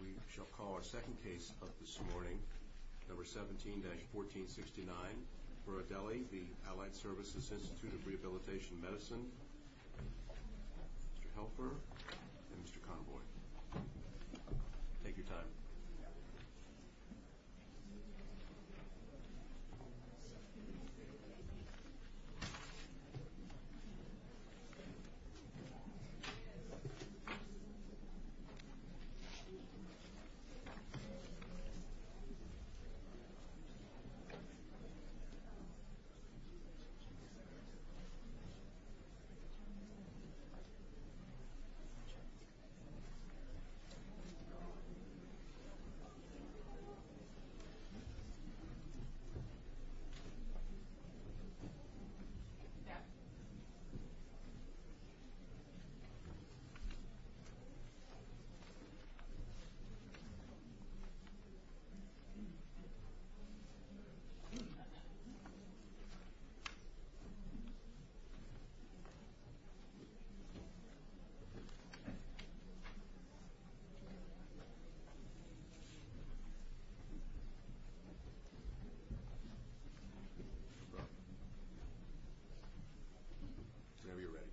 We shall call our second case of this morning, number 17-1469, Berardelli, the Allied Services Institute of Rehabilitation Medicine, Mr. Helfer, and Mr. Convoy. Take your time. Take your time. Take your time. Take your time. Take your time. Take your time. Take your time. Whenever you're ready.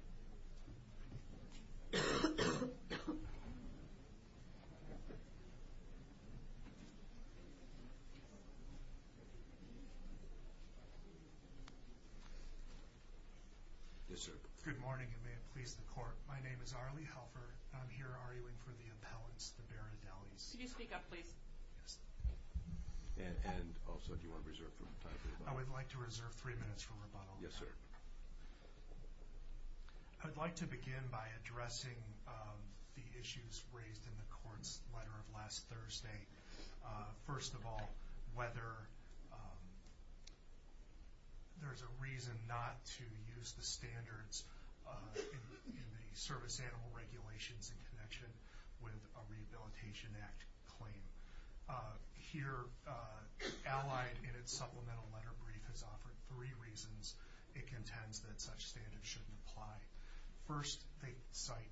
Yes, sir. Good morning, and may it please the court. My name is Arlie Helfer, and I'm here arguing for the appellants, the Berardellis. Could you speak up, please? Yes. And also, do you want to reserve time for rebuttal? I would like to reserve three minutes for rebuttal. Yes, sir. I'd like to begin by addressing the issues raised in the court's letter of last Thursday. First of all, whether there's a reason not to use the standards in the service animal regulations in connection with a Rehabilitation Act claim. Here, Allied, in its supplemental letter brief, has offered three reasons it contends that such standards shouldn't apply. First, they cite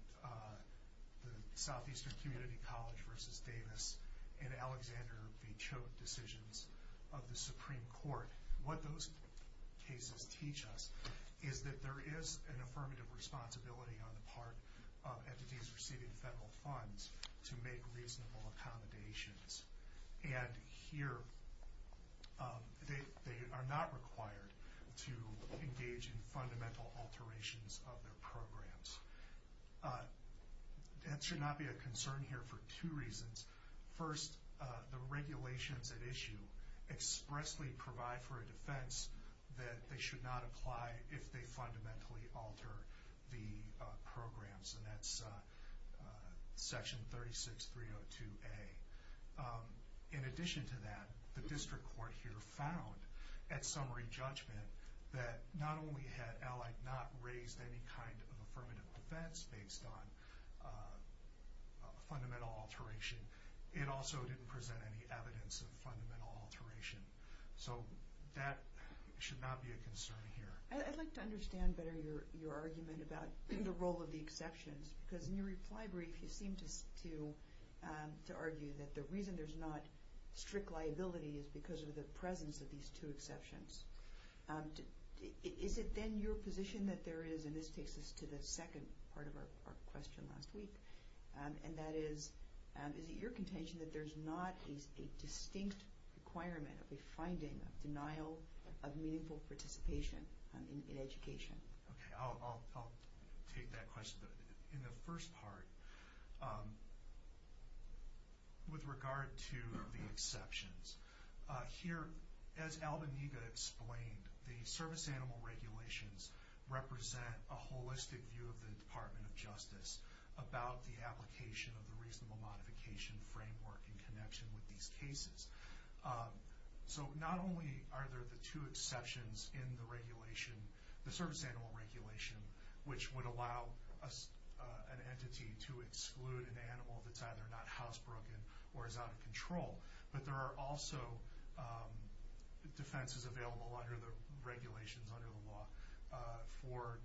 the Southeastern Community College v. Davis and Alexander v. Choate decisions of the Supreme Court. What those cases teach us is that there is an affirmative responsibility on the part of entities receiving federal funds to make reasonable accommodations. And here, they are not required to engage in fundamental alterations of their programs. That should not be a concern here for two reasons. First, the regulations at issue expressly provide for a defense that they should not apply if they fundamentally alter the programs. And that's Section 36-302A. In addition to that, the district court here found, at summary judgment, that not only had Allied not raised any kind of affirmative defense based on fundamental alteration, it also didn't present any evidence of fundamental alteration. So that should not be a concern here. I'd like to understand better your argument about the role of the exceptions. Because in your reply brief, you seem to argue that the reason there's not strict liability is because of the presence of these two exceptions. Is it then your position that there is, and this takes us to the second part of our question last week, and that is, is it your contention that there's not a distinct requirement of a finding of denial of meaningful participation in education? Okay, I'll take that question. In the first part, with regard to the exceptions, here, as Albenega explained, the service animal regulations represent a holistic view of the Department of Justice about the application of the reasonable modification framework in connection with these cases. So not only are there the two exceptions in the regulation, the service animal regulation, which would allow an entity to exclude an animal that's either not housebroken or is out of control, but there are also defenses available under the regulations, under the law, for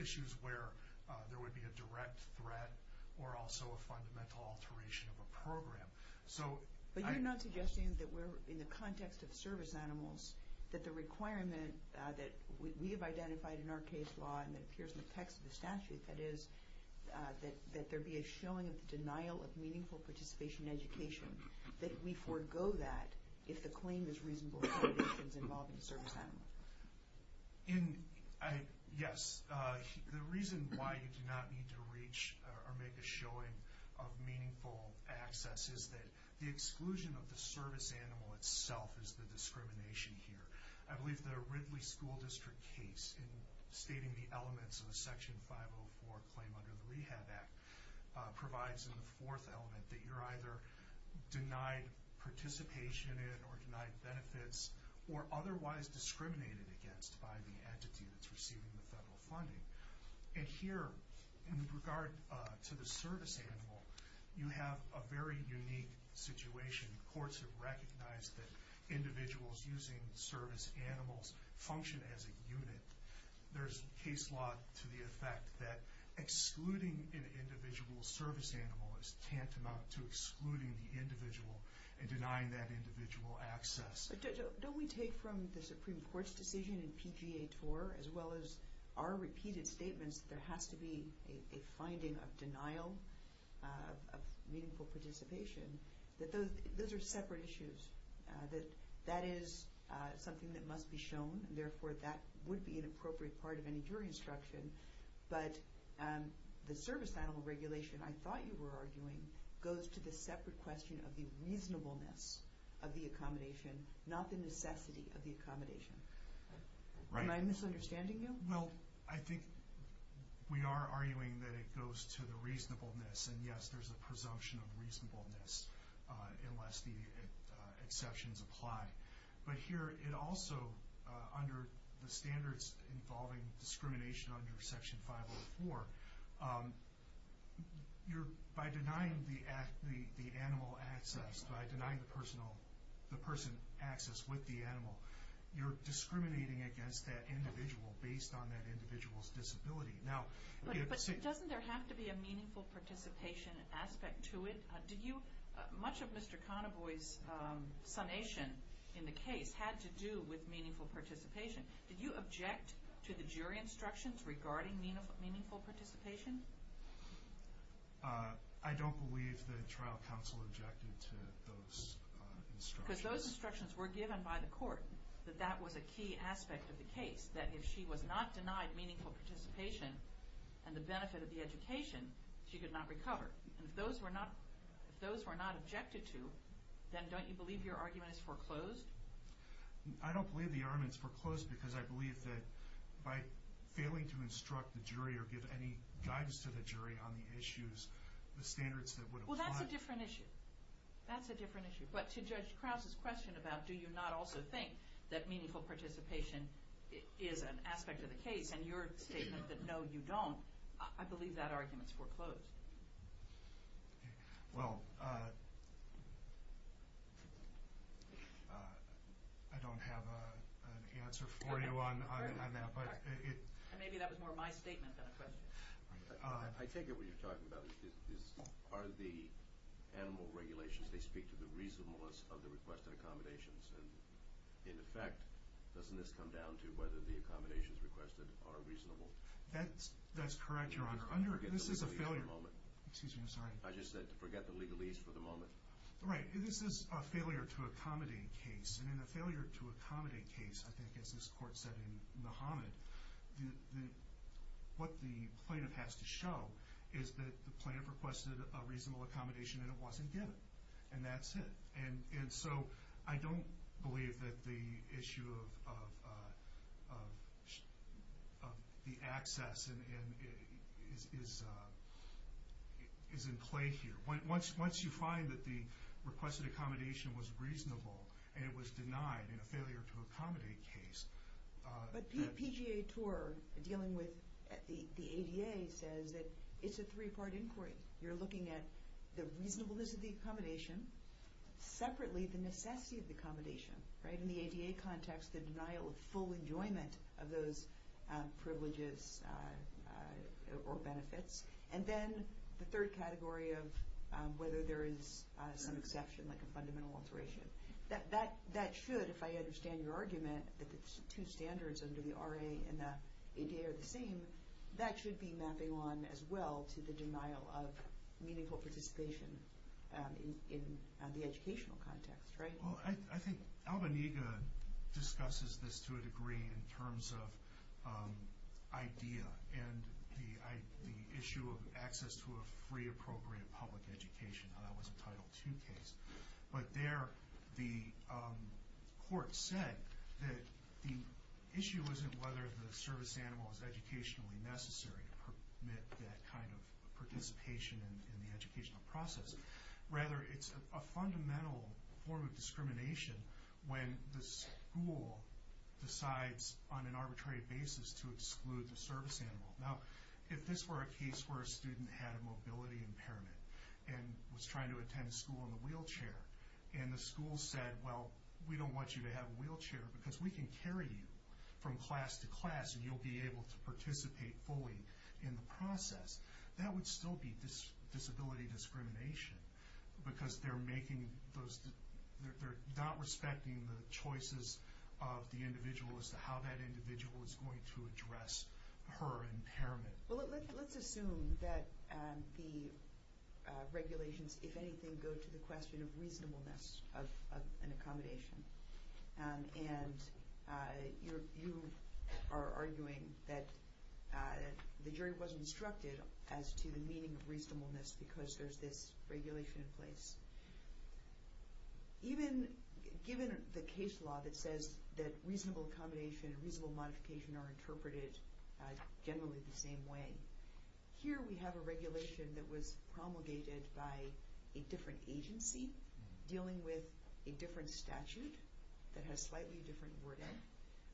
issues where there would be a direct threat or also a fundamental alteration of a program. But you're not suggesting that we're, in the context of service animals, that the requirement that we have identified in our case law and that appears in the text of the statute, that is, that there be a showing of the denial of meaningful participation in education, that we forego that if the claim is reasonable accommodations involving the service animal? Yes. The reason why you do not need to reach or make a showing of meaningful access is that the exclusion of the service animal itself is the discrimination here. I believe the Ridley School District case in stating the elements of a Section 504 claim under the Rehab Act provides in the fourth element that you're either denied participation in or denied benefits or otherwise discriminated against by the entity that's receiving the federal funding. And here, in regard to the service animal, you have a very unique situation. Courts have recognized that individuals using service animals function as a unit. There's case law to the effect that excluding an individual service animal is tantamount to excluding the individual and denying that individual access. Don't we take from the Supreme Court's decision in PGA Tour, as well as our repeated statements, that there has to be a finding of denial of meaningful participation, that those are separate issues, that that is something that must be shown, and therefore that would be an appropriate part of any jury instruction, but the service animal regulation, I thought you were arguing, goes to the separate question of the reasonableness of the accommodation, not the necessity of the accommodation. Am I misunderstanding you? Well, I think we are arguing that it goes to the reasonableness, and yes, there's a presumption of reasonableness unless the exceptions apply. But here it also, under the standards involving discrimination under Section 504, by denying the animal access, by denying the person access with the animal, you're discriminating against that individual based on that individual's disability. But doesn't there have to be a meaningful participation aspect to it? Much of Mr. Conaboy's summation in the case had to do with meaningful participation. Did you object to the jury instructions regarding meaningful participation? I don't believe the trial counsel objected to those instructions. Because those instructions were given by the court, that that was a key aspect of the case, that if she was not denied meaningful participation and the benefit of the education, she could not recover. And if those were not objected to, then don't you believe your argument is foreclosed? I don't believe the argument is foreclosed because I believe that by failing to instruct the jury or give any guidance to the jury on the issues, the standards that would apply— Well, that's a different issue. That's a different issue. But to Judge Krause's question about do you not also think that meaningful participation is an aspect of the case, and your statement that no, you don't, I believe that argument is foreclosed. Well, I don't have an answer for you on that. Maybe that was more my statement than a question. I take it what you're talking about is are the animal regulations, they speak to the reasonableness of the requested accommodations. And in effect, doesn't this come down to whether the accommodations requested are reasonable? That's correct, Your Honor. I just said to forget the legalese for the moment. Right. This is a failure to accommodate case. And in a failure to accommodate case, I think as this Court said in Muhammad, what the plaintiff has to show is that the plaintiff requested a reasonable accommodation and it wasn't given, and that's it. And so I don't believe that the issue of the access is in play here. Once you find that the requested accommodation was reasonable and it was denied in a failure to accommodate case— But PGA TOUR dealing with the ADA says that it's a three-part inquiry. You're looking at the reasonableness of the accommodation, separately the necessity of the accommodation, right, in the ADA context, the denial of full enjoyment of those privileges or benefits, and then the third category of whether there is some exception, like a fundamental alteration. That should, if I understand your argument, that the two standards under the RA and the ADA are the same, that should be mapping on as well to the denial of meaningful participation in the educational context, right? Well, I think Albanyga discusses this to a degree in terms of IDEA and the issue of access to a free, appropriate public education. I know that was a Title II case. But there the court said that the issue isn't whether the service animal is educationally necessary to permit that kind of participation in the educational process. Rather, it's a fundamental form of discrimination when the school decides on an arbitrary basis to exclude the service animal. Now, if this were a case where a student had a mobility impairment and was trying to attend school in a wheelchair, and the school said, well, we don't want you to have a wheelchair because we can carry you from class to class and you'll be able to participate fully in the process, that would still be disability discrimination because they're not respecting the choices of the individual as to how that individual is going to address her impairment. Well, let's assume that the regulations, if anything, go to the question of reasonableness of an accommodation. And you are arguing that the jury wasn't instructed as to the meaning of reasonableness because there's this regulation in place. Even given the case law that says that reasonable accommodation and reasonable modification are interpreted generally the same way. Here we have a regulation that was promulgated by a different agency dealing with a different statute that has slightly different wording.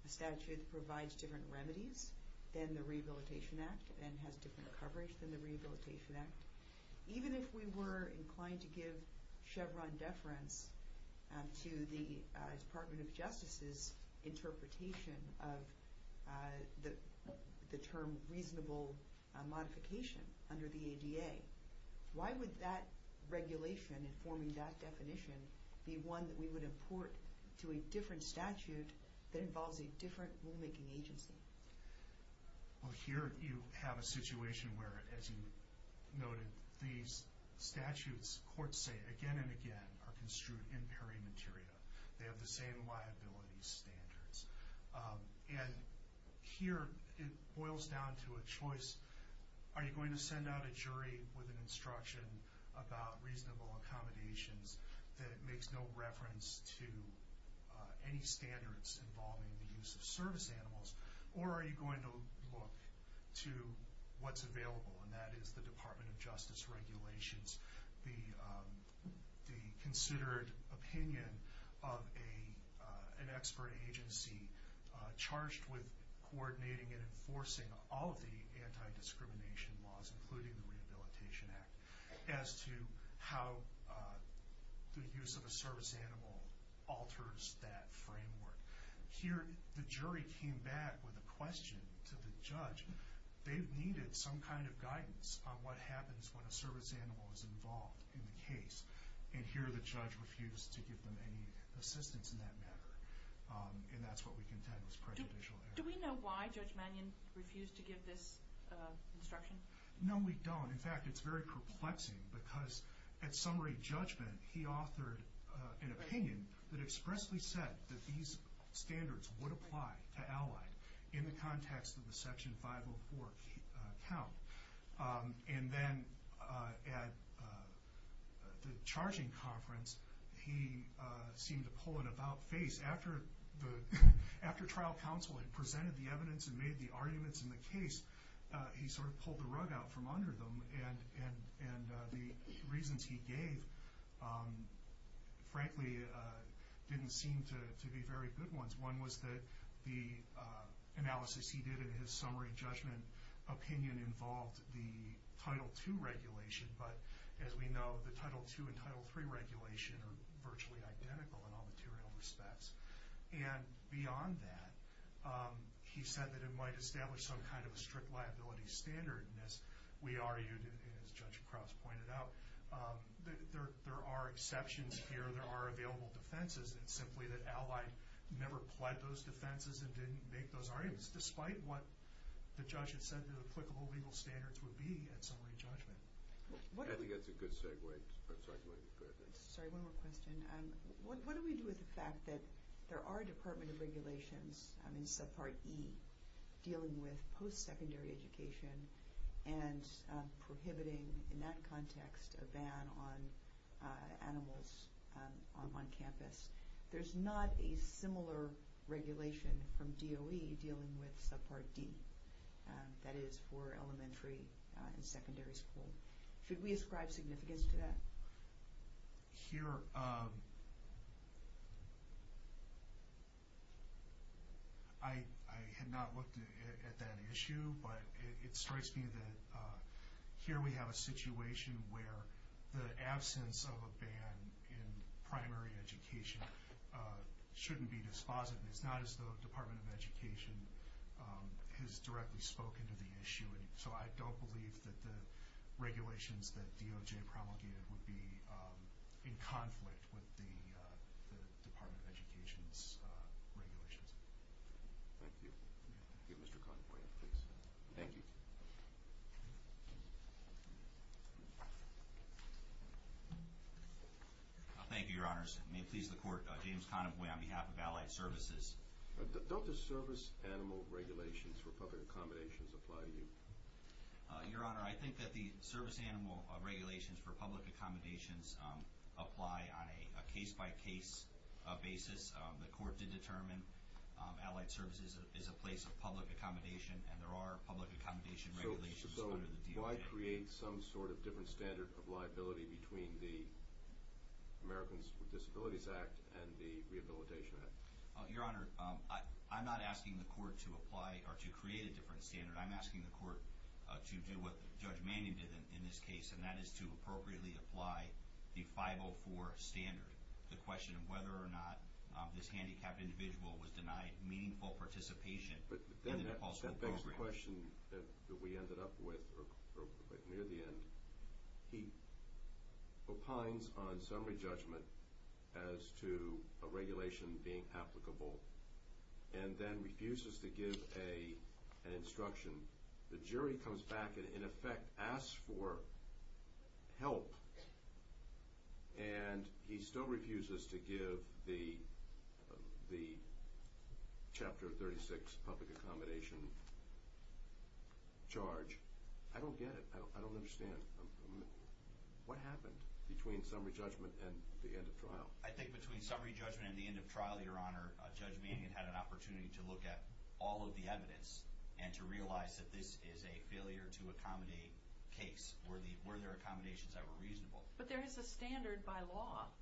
The statute provides different remedies than the Rehabilitation Act and has different coverage than the Rehabilitation Act. Even if we were inclined to give Chevron deference to the Department of Justice's the term reasonable modification under the ADA, why would that regulation informing that definition be one that we would import to a different statute that involves a different rulemaking agency? Well, here you have a situation where, as you noted, these statutes courts say again and again are construed in peri materia. They have the same liability standards. And here it boils down to a choice. Are you going to send out a jury with an instruction about reasonable accommodations that makes no reference to any standards involving the use of service animals? Or are you going to look to what's available, and that is the Department of Justice regulations, the considered opinion of an expert agency charged with coordinating and enforcing all of the anti-discrimination laws, including the Rehabilitation Act, as to how the use of a service animal alters that framework. Here the jury came back with a question to the judge. They've needed some kind of guidance on what happens when a service animal is involved in the case. And here the judge refused to give them any assistance in that matter. And that's what we contend was prejudicial error. Do we know why Judge Mannion refused to give this instruction? No, we don't. In fact, it's very perplexing because at summary judgment, he authored an opinion that expressly said that these standards would apply to allied in the context of the Section 504 count. And then at the charging conference, he seemed to pull an about face. After trial counsel had presented the evidence and made the arguments in the case, he sort of pulled the rug out from under them. And the reasons he gave, frankly, didn't seem to be very good ones. One was that the analysis he did in his summary judgment opinion involved the Title II regulation. But as we know, the Title II and Title III regulation are virtually identical in all material respects. And beyond that, he said that it might establish some kind of a strict liability standard. And as we argued and as Judge Krause pointed out, there are exceptions here. There are available defenses. It's simply that allied never pled those defenses and didn't make those arguments, despite what the judge had said the applicable legal standards would be at summary judgment. I think that's a good segue. I'm sorry, go ahead. Sorry, one more question. What do we do with the fact that there are Department of Regulations, I mean subpart E, dealing with post-secondary education and prohibiting, in that context, a ban on animals on campus? There's not a similar regulation from DOE dealing with subpart D, that is for elementary and secondary school. Should we ascribe significance to that? Here, I had not looked at that issue, but it strikes me that here we have a situation where the absence of a ban in primary education shouldn't be dispositive. It's not as though the Department of Education has directly spoken to the issue. So I don't believe that the regulations that DOJ promulgated would be in conflict with the Department of Education's regulations. Thank you. Mr. Conaway, please. Thank you. Thank you, Your Honors. May it please the Court, James Conaway on behalf of Allied Services. Don't the service animal regulations for public accommodations apply to you? Your Honor, I think that the service animal regulations for public accommodations apply on a case-by-case basis. The Court did determine Allied Services is a place of public accommodation, and there are public accommodation regulations under the DOJ. So why create some sort of different standard of liability between the Americans with Disabilities Act and the Rehabilitation Act? Your Honor, I'm not asking the Court to apply or to create a different standard. I'm asking the Court to do what Judge Manning did in this case, and that is to appropriately apply the 504 standard, the question of whether or not this handicapped individual was denied meaningful participation in an impulsive program. That begs the question that we ended up with near the end. He opines on summary judgment as to a regulation being applicable, and then refuses to give an instruction. The jury comes back and, in effect, asks for help, and he still refuses to give the Chapter 36 public accommodation charge. I don't get it. I don't understand. What happened between summary judgment and the end of trial? I think between summary judgment and the end of trial, Your Honor, Judge Manning had an opportunity to look at all of the evidence and to realize that this is a failure-to-accommodate case. Were there accommodations that were reasonable? But there is a standard by law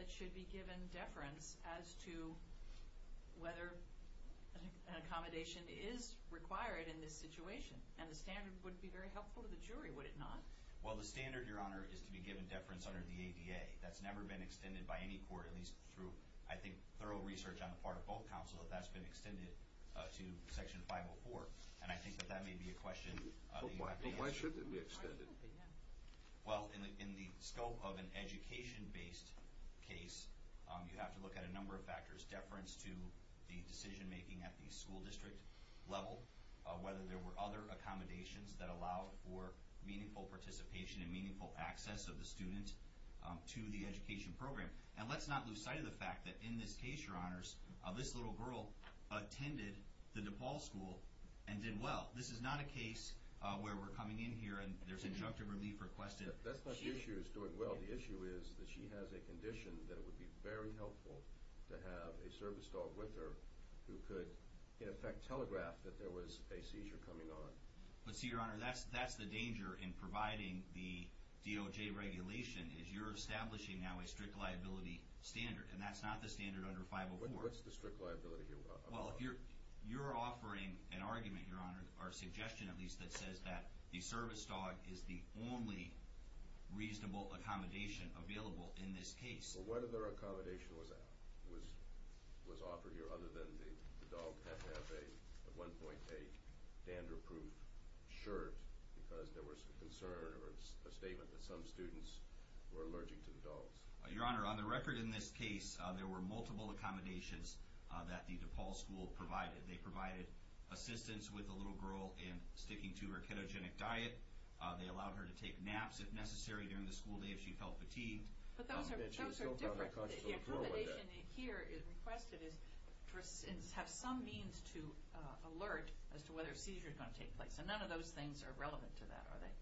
that should be given deference as to whether an accommodation is required in this situation, and the standard would be very helpful to the jury, would it not? Well, the standard, Your Honor, is to be given deference under the ADA. That's never been extended by any court, at least through, I think, thorough research on the part of both counsels, that that's been extended to Section 504, and I think that that may be a question that you have to answer. But why should it be extended? Well, in the scope of an education-based case, you have to look at a number of factors. Deference to the decision-making at the school district level, whether there were other accommodations that allowed for meaningful participation and meaningful access of the student to the education program. And let's not lose sight of the fact that in this case, Your Honors, this little girl attended the DePaul School and did well. This is not a case where we're coming in here and there's injunctive relief requested. That's not the issue of doing well. The issue is that she has a condition that it would be very helpful to have a service dog with her who could, in effect, telegraph that there was a seizure coming on. But see, Your Honor, that's the danger in providing the DOJ regulation, is you're establishing now a strict liability standard, and that's not the standard under 504. What's the strict liability here about? Well, you're offering an argument, Your Honor, or suggestion at least, that says that the service dog is the only reasonable accommodation available in this case. Well, what other accommodation was offered here other than the dog had to have at one point a dandruff-proof shirt because there was a concern or a statement that some students were allergic to the dogs? Your Honor, on the record in this case, there were multiple accommodations that the DePaul School provided. They provided assistance with the little girl in sticking to her ketogenic diet. They allowed her to take naps if necessary during the school day if she felt fatigued. But those are different. The accommodation here requested is to have some means to alert as to whether a seizure is going to take place. And none of those things are relevant to that, are they?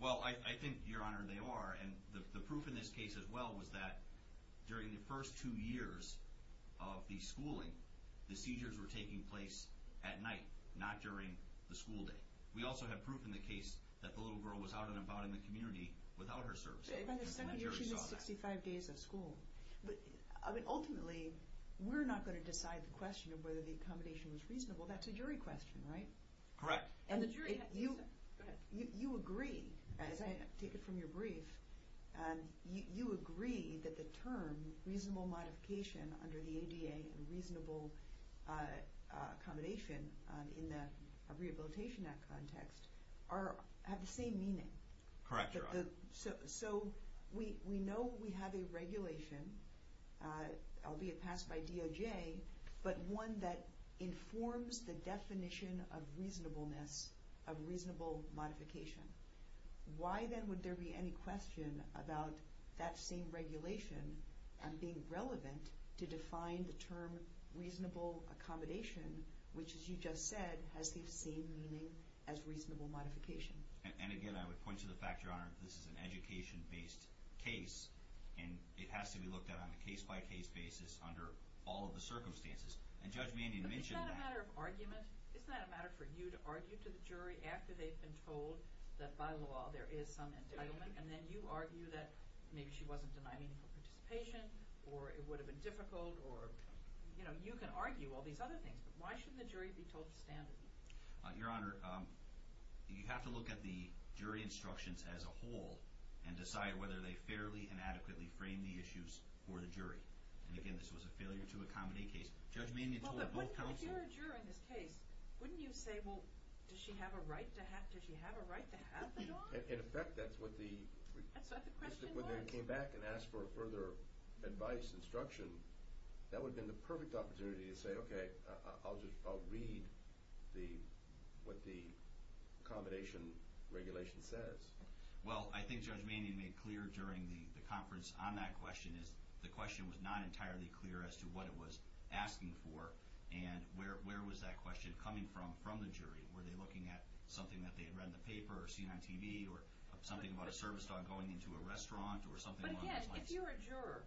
Well, I think, Your Honor, they are. And the proof in this case as well was that during the first two years of the schooling, the seizures were taking place at night, not during the school day. We also have proof in the case that the little girl was out and about in the community without her service dog. By the second year, she missed 65 days of school. Ultimately, we're not going to decide the question of whether the accommodation was reasonable. That's a jury question, right? Correct. You agree, as I take it from your brief, you agree that the term reasonable modification under the ADA and reasonable accommodation in the Rehabilitation Act context have the same meaning. Correct, Your Honor. So we know we have a regulation, albeit passed by DOJ, but one that informs the definition of reasonableness, of reasonable modification. Why then would there be any question about that same regulation being relevant to define the term reasonable accommodation, which, as you just said, has the same meaning as reasonable modification? And again, I would point to the fact, Your Honor, that this is an education-based case, and it has to be looked at on a case-by-case basis under all of the circumstances. And Judge Mannion mentioned that. But isn't that a matter of argument? Isn't that a matter for you to argue to the jury after they've been told that by law there is some entitlement, and then you argue that maybe she wasn't denying any participation, or it would have been difficult, or, you know, you can argue all these other things, but why shouldn't the jury be told to stand? Your Honor, you have to look at the jury instructions as a whole and decide whether they fairly and adequately frame the issues for the jury. And again, this was a failure-to-accommodate case. Judge Mannion told both counsels... Well, but if you're a juror in this case, wouldn't you say, well, does she have a right to have it on? In effect, that's what the... That's what the question was. If they came back and asked for further advice, instruction, that would have been the perfect opportunity to say, okay, I'll read what the accommodation regulation says. Well, I think Judge Mannion made clear during the conference on that question is the question was not entirely clear as to what it was asking for and where was that question coming from from the jury. Were they looking at something that they had read in the paper or seen on TV or something about a service dog going into a restaurant or something along those lines? Again, if you're a juror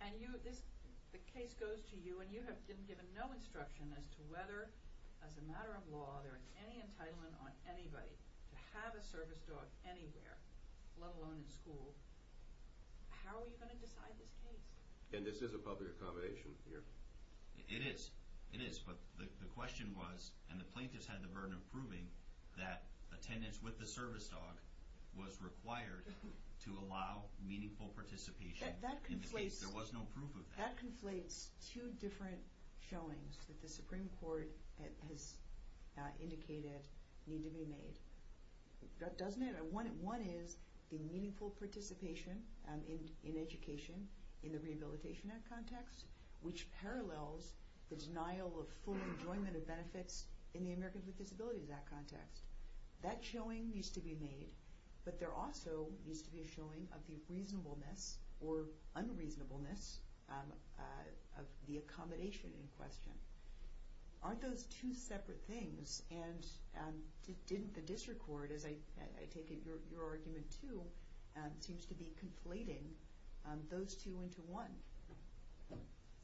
and the case goes to you and you have been given no instruction as to whether, as a matter of law, there is any entitlement on anybody to have a service dog anywhere, let alone in school, how are you going to decide this case? And this is a public accommodation here? It is. It is. But the question was, and the plaintiffs had the burden of proving, that attendance with the service dog was required to allow meaningful participation in the case. There was no proof of that. That conflates two different showings that the Supreme Court has indicated need to be made. One is the meaningful participation in education in the Rehabilitation Act context, which parallels the denial of full enjoyment of benefits in the Americans with Disabilities Act context. That showing needs to be made, but there also needs to be a showing of the reasonableness or unreasonableness of the accommodation in question. Aren't those two separate things? Yes, and didn't the district court, as I take it your argument too, seems to be conflating those two into one?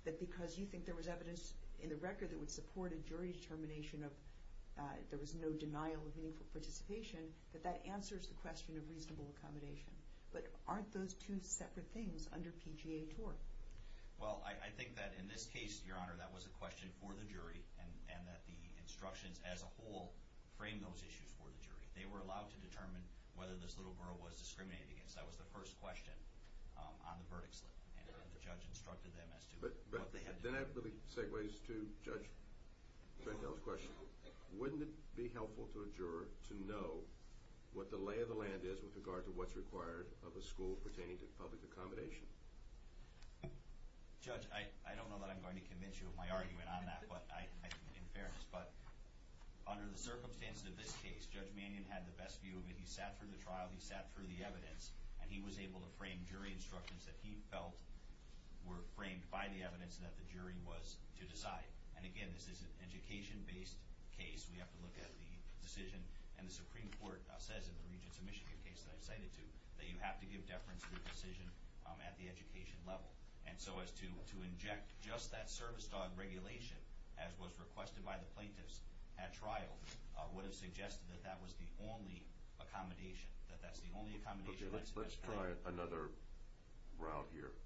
That because you think there was evidence in the record that would support a jury determination of there was no denial of meaningful participation, that that answers the question of reasonable accommodation. But aren't those two separate things under PGA TOR? Well, I think that in this case, Your Honor, that was a question for the jury and that the instructions as a whole frame those issues for the jury. They were allowed to determine whether this little borough was discriminated against. That was the first question on the verdict slip. And the judge instructed them as to what they had to do. Then that really segues to Judge Gentile's question. Wouldn't it be helpful to a juror to know what the lay of the land is with regard to what's required of a school pertaining to public accommodation? Judge, I don't know that I'm going to convince you of my argument on that in fairness, but under the circumstances of this case, Judge Mannion had the best view of it. He sat through the trial, he sat through the evidence, and he was able to frame jury instructions that he felt were framed by the evidence and that the jury was to decide. And again, this is an education-based case. We have to look at the decision. And the Supreme Court says in the Regents of Michigan case that I've cited to that you have to give deference to the decision at the education level. And so as to inject just that service dog regulation, as was requested by the plaintiffs at trial, would have suggested that that was the only accommodation, that that's the only accommodation. Okay, let's try another route here.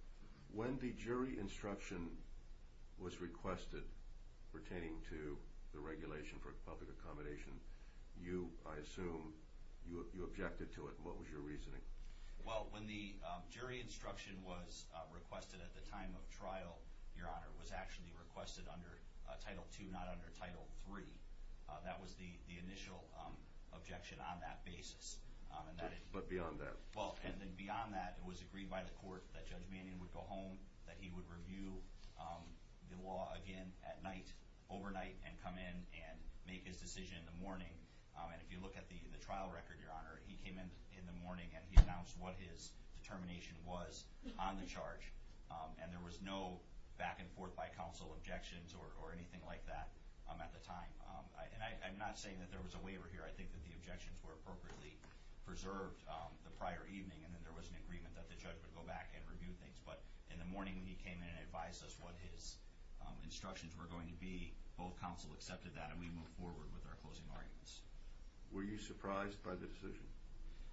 When the jury instruction was requested pertaining to the regulation for public accommodation, you, I assume, you objected to it. What was your reasoning? Well, when the jury instruction was requested at the time of trial, Your Honor, it was actually requested under Title II, not under Title III. That was the initial objection on that basis. But beyond that? Well, and then beyond that, it was agreed by the court that Judge Mannion would go home, that he would review the law again at night, overnight, and come in and make his decision in the morning. And if you look at the trial record, Your Honor, he came in in the morning and he announced what his determination was on the charge. And there was no back-and-forth by counsel objections or anything like that at the time. And I'm not saying that there was a waiver here. I think that the objections were appropriately preserved the prior evening and that there was an agreement that the judge would go back and review things. But in the morning when he came in and advised us what his instructions were going to be, both counsel accepted that and we moved forward with our closing arguments. Were you surprised by the decision?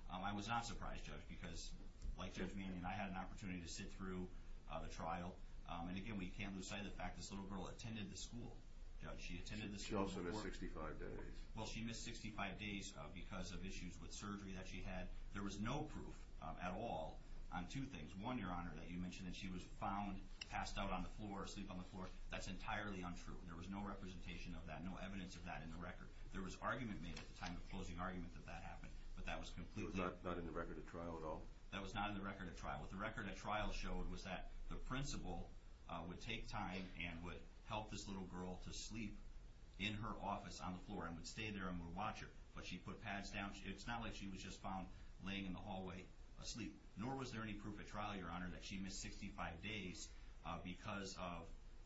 I was not surprised, Judge, because, like Judge Mannion, I had an opportunity to sit through the trial. And, again, we can't lose sight of the fact this little girl attended the school, Judge. She attended the school before. She also missed 65 days. Well, she missed 65 days because of issues with surgery that she had. There was no proof at all on two things. One, Your Honor, that you mentioned that she was found, passed out on the floor, asleep on the floor. That's entirely untrue. There was no representation of that, no evidence of that in the record. There was argument made at the time of the closing argument that that happened, but that was completely untrue. It was not in the record at trial at all? That was not in the record at trial. What the record at trial showed was that the principal would take time and would help this little girl to sleep in her office on the floor and would stay there and would watch her. But she put pads down. It's not like she was just found laying in the hallway asleep. Nor was there any proof at trial, Your Honor, that she missed 65 days because of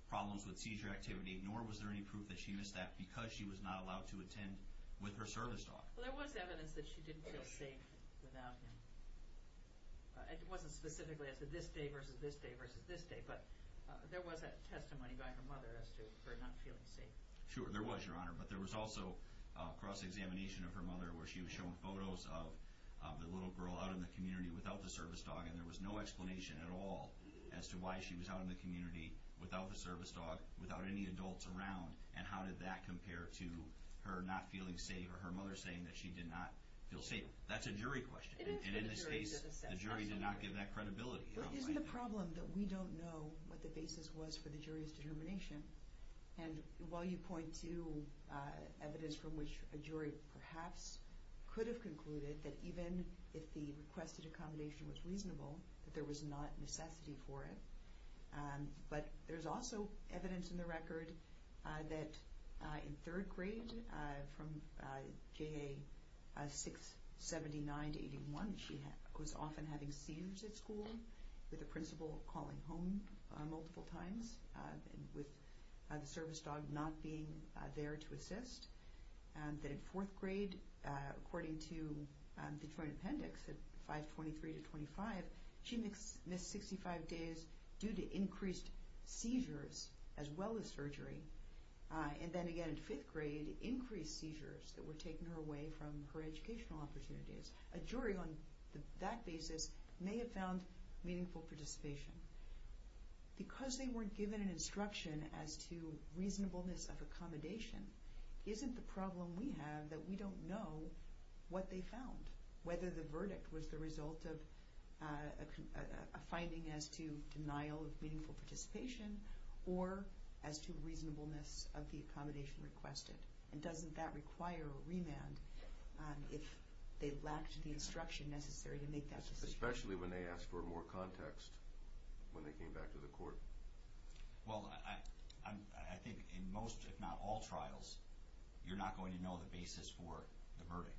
problems with seizure activity, nor was there any proof that she missed that because she was not allowed to attend with her service dog. Well, there was evidence that she didn't feel safe without him. It wasn't specifically as to this day versus this day versus this day, but there was a testimony by her mother as to her not feeling safe. Sure, there was, Your Honor, but there was also cross-examination of her mother where she was showing photos of the little girl out in the community without the service dog, and there was no explanation at all as to why she was out in the community without the service dog, without any adults around, and how did that compare to her not feeling safe or her mother saying that she did not feel safe. That's a jury question, and in this case the jury did not give that credibility. Isn't the problem that we don't know what the basis was for the jury's determination? And while you point to evidence from which a jury perhaps could have concluded that even if the requested accommodation was reasonable, that there was not necessity for it, but there's also evidence in the record that in third grade from J.A. 679-81, she was often having seizures at school with the principal calling home multiple times with the service dog not being there to assist, that in fourth grade, according to the joint appendix at 523-25, she missed 65 days due to increased seizures as well as surgery, and then again in fifth grade, increased seizures that were taking her away from her educational opportunities. A jury on that basis may have found meaningful participation. Because they weren't given an instruction as to reasonableness of accommodation, isn't the problem we have that we don't know what they found, whether the verdict was the result of a finding as to denial of meaningful participation or as to reasonableness of the accommodation requested? And doesn't that require a remand if they lacked the instruction necessary to make that decision? Especially when they ask for more context when they came back to the court. Well, I think in most, if not all, trials, you're not going to know the basis for the verdict.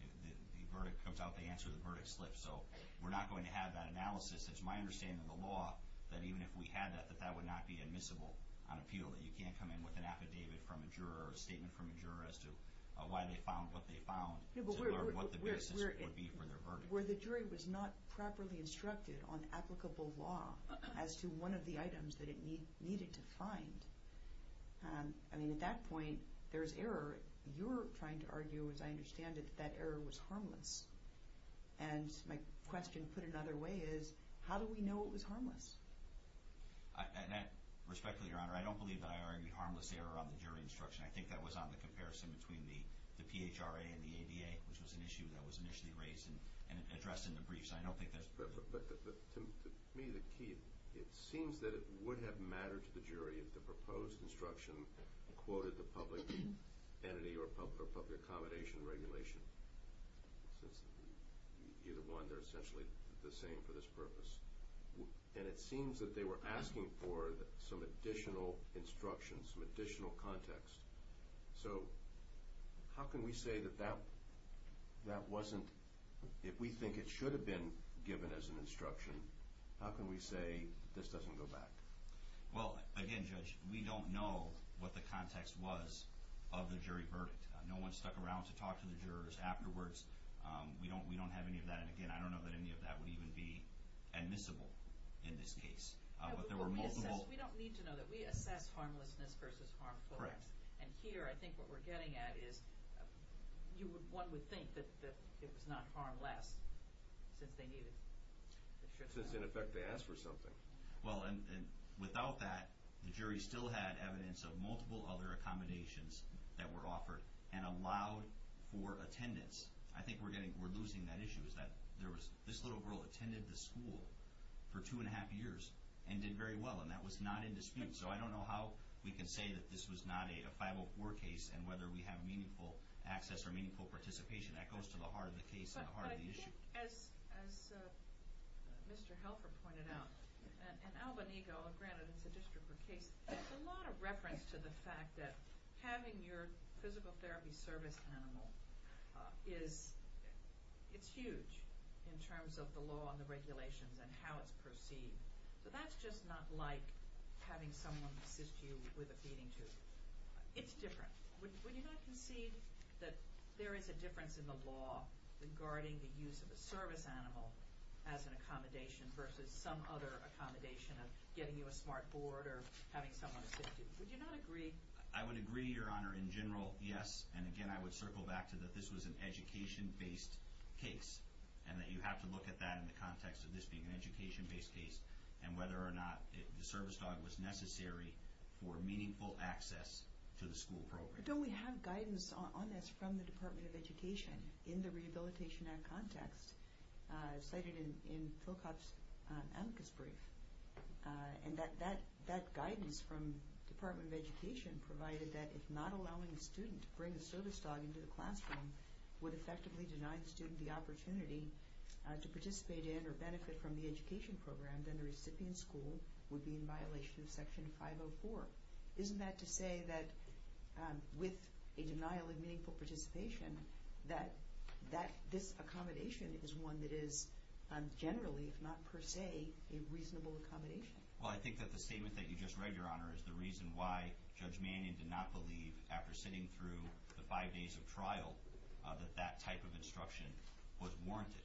The verdict comes out, the answer to the verdict slips. So we're not going to have that analysis. It's my understanding of the law that even if we had that, that that would not be admissible on appeal, that you can't come in with an affidavit from a juror or a statement from a juror as to why they found what they found to learn what the basis would be for their verdict. Where the jury was not properly instructed on applicable law as to one of the items that it needed to find. I mean, at that point, there's error. You're trying to argue, as I understand it, that that error was harmless. And my question put another way is, how do we know it was harmless? Respectfully, Your Honor, I don't believe that I argued harmless error on the jury instruction. I think that was on the comparison between the PHRA and the ADA, which was an issue that was initially raised and addressed in the briefs. I don't think that's... But to me, the key, it seems that it would have mattered to the jury if the proposed instruction quoted the public entity or public accommodation regulation. Since either one, they're essentially the same for this purpose. And it seems that they were asking for some additional instructions, some additional context. So how can we say that that wasn't... If we think it should have been given as an instruction, how can we say this doesn't go back? Well, again, Judge, we don't know what the context was of the jury verdict. No one stuck around to talk to the jurors afterwards. We don't have any of that. And, again, I don't know that any of that would even be admissible in this case. But there were multiple... We don't need to know that. We assess harmlessness versus harmfulness. Correct. And here, I think what we're getting at is one would think that it was not harmless since they needed it. Since, in effect, they asked for something. Well, and without that, the jury still had evidence of multiple other accommodations that were offered and allowed for attendance. I think we're losing that issue, is that this little girl attended the school for two-and-a-half years and did very well, and that was not in dispute. So I don't know how we can say that this was not a 504 case and whether we have meaningful access or meaningful participation. That goes to the heart of the case and the heart of the issue. As Mr. Helfer pointed out, in Albany, granted it's a district court case, there's a lot of reference to the fact that having your physical therapy service animal is huge in terms of the law and the regulations and how it's perceived. So that's just not like having someone assist you with a feeding tube. It's different. Would you not concede that there is a difference in the law regarding the use of a service animal as an accommodation versus some other accommodation of getting you a smart board or having someone assist you? Would you not agree? I would agree, Your Honor, in general, yes. And again, I would circle back to that this was an education-based case and that you have to look at that in the context of this being an education-based case and whether or not the service dog was necessary for meaningful access to the school program. In the Rehabilitation Act context, cited in Phil Kopp's amicus brief, that guidance from the Department of Education provided that if not allowing a student to bring a service dog into the classroom would effectively deny the student the opportunity to participate in or benefit from the education program, then the recipient school would be in violation of Section 504. Isn't that to say that with a denial of meaningful participation that this accommodation is one that is generally, if not per se, a reasonable accommodation? Well, I think that the statement that you just read, Your Honor, is the reason why Judge Mannion did not believe after sitting through the five days of trial that that type of instruction was warranted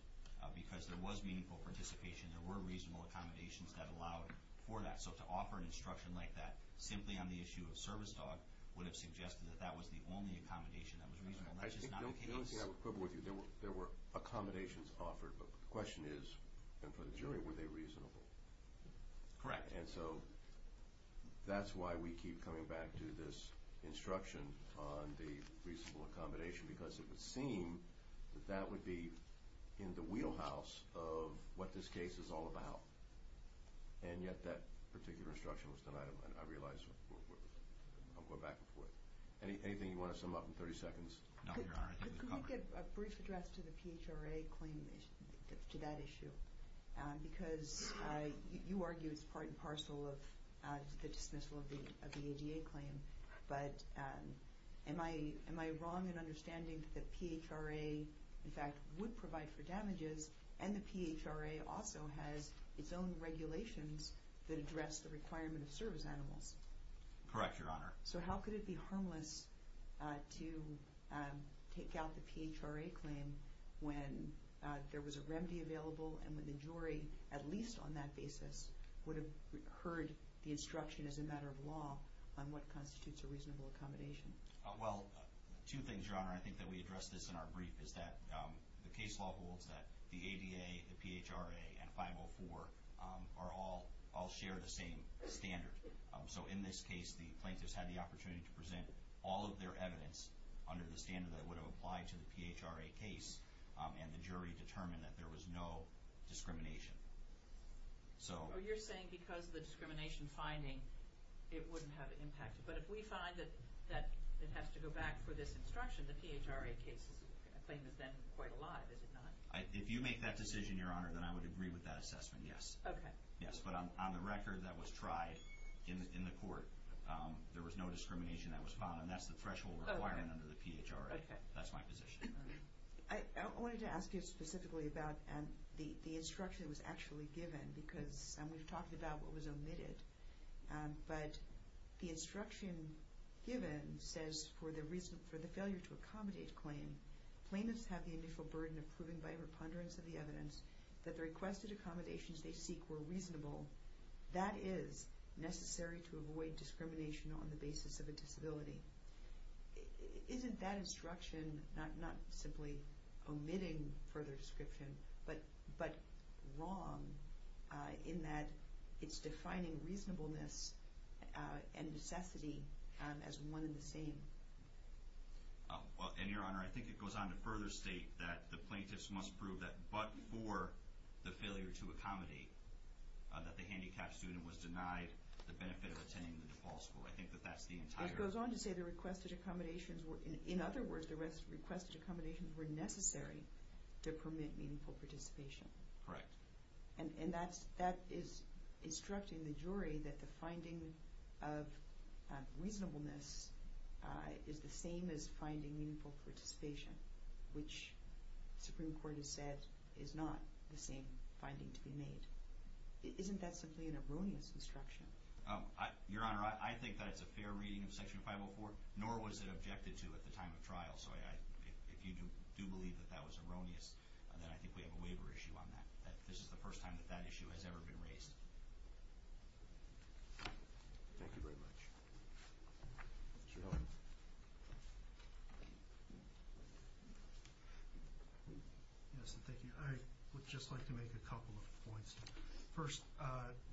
because there was meaningful participation, there were reasonable accommodations that allowed for that. So to offer an instruction like that simply on the issue of service dog would have suggested that that was the only accommodation that was reasonable. That's just not the case. I don't think I would quibble with you. There were accommodations offered, but the question is, and for the jury, were they reasonable? Correct. And so that's why we keep coming back to this instruction on the reasonable accommodation because it would seem that that would be in the wheelhouse of what this case is all about. And yet that particular instruction was denied. I realize I'm going back and forth. Anything you want to sum up in 30 seconds? No, Your Honor. Could we get a brief address to the PHRA claim, to that issue? Because you argue it's part and parcel of the dismissal of the ADA claim, but am I wrong in understanding that PHRA, in fact, would provide for damages and the PHRA also has its own regulations that address the requirement of service animals? Correct, Your Honor. So how could it be harmless to take out the PHRA claim when there was a remedy available and when the jury, at least on that basis, would have heard the instruction as a matter of law on what constitutes a reasonable accommodation? Well, two things, Your Honor. I think that we addressed this in our brief, is that the case law holds that the ADA, the PHRA, and 504 all share the same standard. So in this case, the plaintiffs had the opportunity to present all of their evidence under the standard that would have applied to the PHRA case, and the jury determined that there was no discrimination. So you're saying because of the discrimination finding, it wouldn't have impacted. But if we find that it has to go back for this instruction, the PHRA claim is then quite alive, is it not? If you make that decision, Your Honor, then I would agree with that assessment, yes. But on the record, that was tried in the court. There was no discrimination that was found, and that's the threshold requirement under the PHRA. That's my position. I wanted to ask you specifically about the instruction that was actually given because we've talked about what was omitted. But the instruction given says, for the failure to accommodate claim, plaintiffs have the initial burden of proving by a reponderance of the evidence that the requested accommodations they seek were reasonable. That is necessary to avoid discrimination on the basis of a disability. Isn't that instruction not simply omitting further description, but wrong in that it's defining reasonableness and necessity as one and the same? Well, and Your Honor, I think it goes on to further state that the plaintiffs must prove that but for the failure to accommodate, that the handicapped student was denied the benefit of attending the DePaul School. I think that that's the entire… It goes on to say the requested accommodations were, in other words, the requested accommodations were necessary to permit meaningful participation. Correct. And that is instructing the jury that the finding of reasonableness is the same as finding meaningful participation, which the Supreme Court has said is not the same finding to be made. Isn't that simply an erroneous instruction? Your Honor, I think that it's a fair reading of Section 504, nor was it objected to at the time of trial. So if you do believe that that was erroneous, then I think we have a waiver issue on that. This is the first time that that issue has ever been raised. Thank you very much. Jerome. Yes, thank you. I would just like to make a couple of points. First,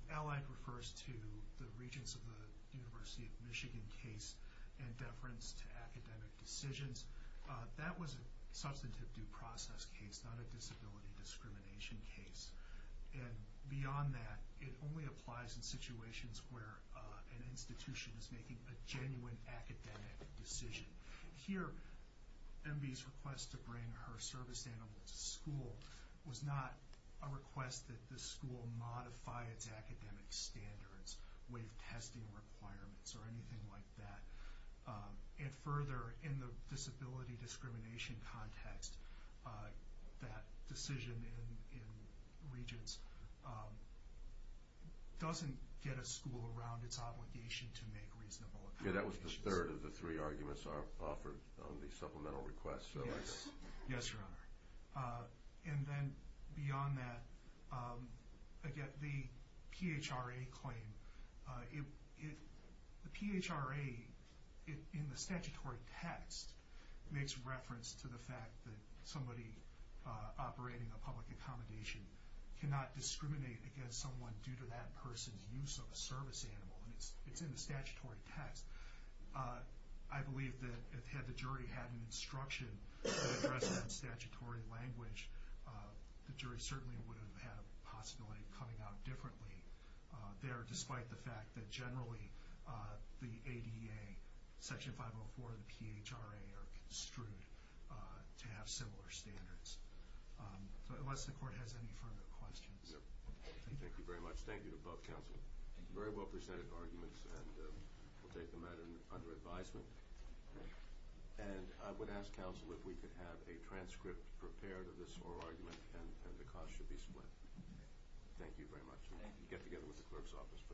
Allied refers to the Regents of the University of Michigan case and deference to academic decisions. That was a substantive due process case, not a disability discrimination case. And beyond that, it only applies in situations where an institution is making a genuine academic decision. Here, MB's request to bring her service animal to school was not a request that the school modify its academic standards, waive testing requirements, or anything like that. And further, in the disability discrimination context, that decision in Regents doesn't get a school around its obligation to make reasonable accommodations. Okay, that was the third of the three arguments offered on the supplemental request. Yes, Your Honor. And then beyond that, again, the PHRA claim, the PHRA in the statutory text makes reference to the fact that somebody operating a public accommodation cannot discriminate against someone due to that person's use of a service animal. And it's in the statutory text. I believe that had the jury had an instruction to address it in statutory language, the jury certainly would have had a possibility of coming out differently there, despite the fact that generally the ADA, Section 504, and the PHRA are construed to have similar standards. So unless the Court has any further questions. Thank you very much. Thank you to both counsel. Very well presented arguments, and we'll take them under advisement. And I would ask counsel if we could have a transcript prepared of this oral argument, and the costs should be split. Thank you very much. Thank you. We'll get together with the clerk's office for that.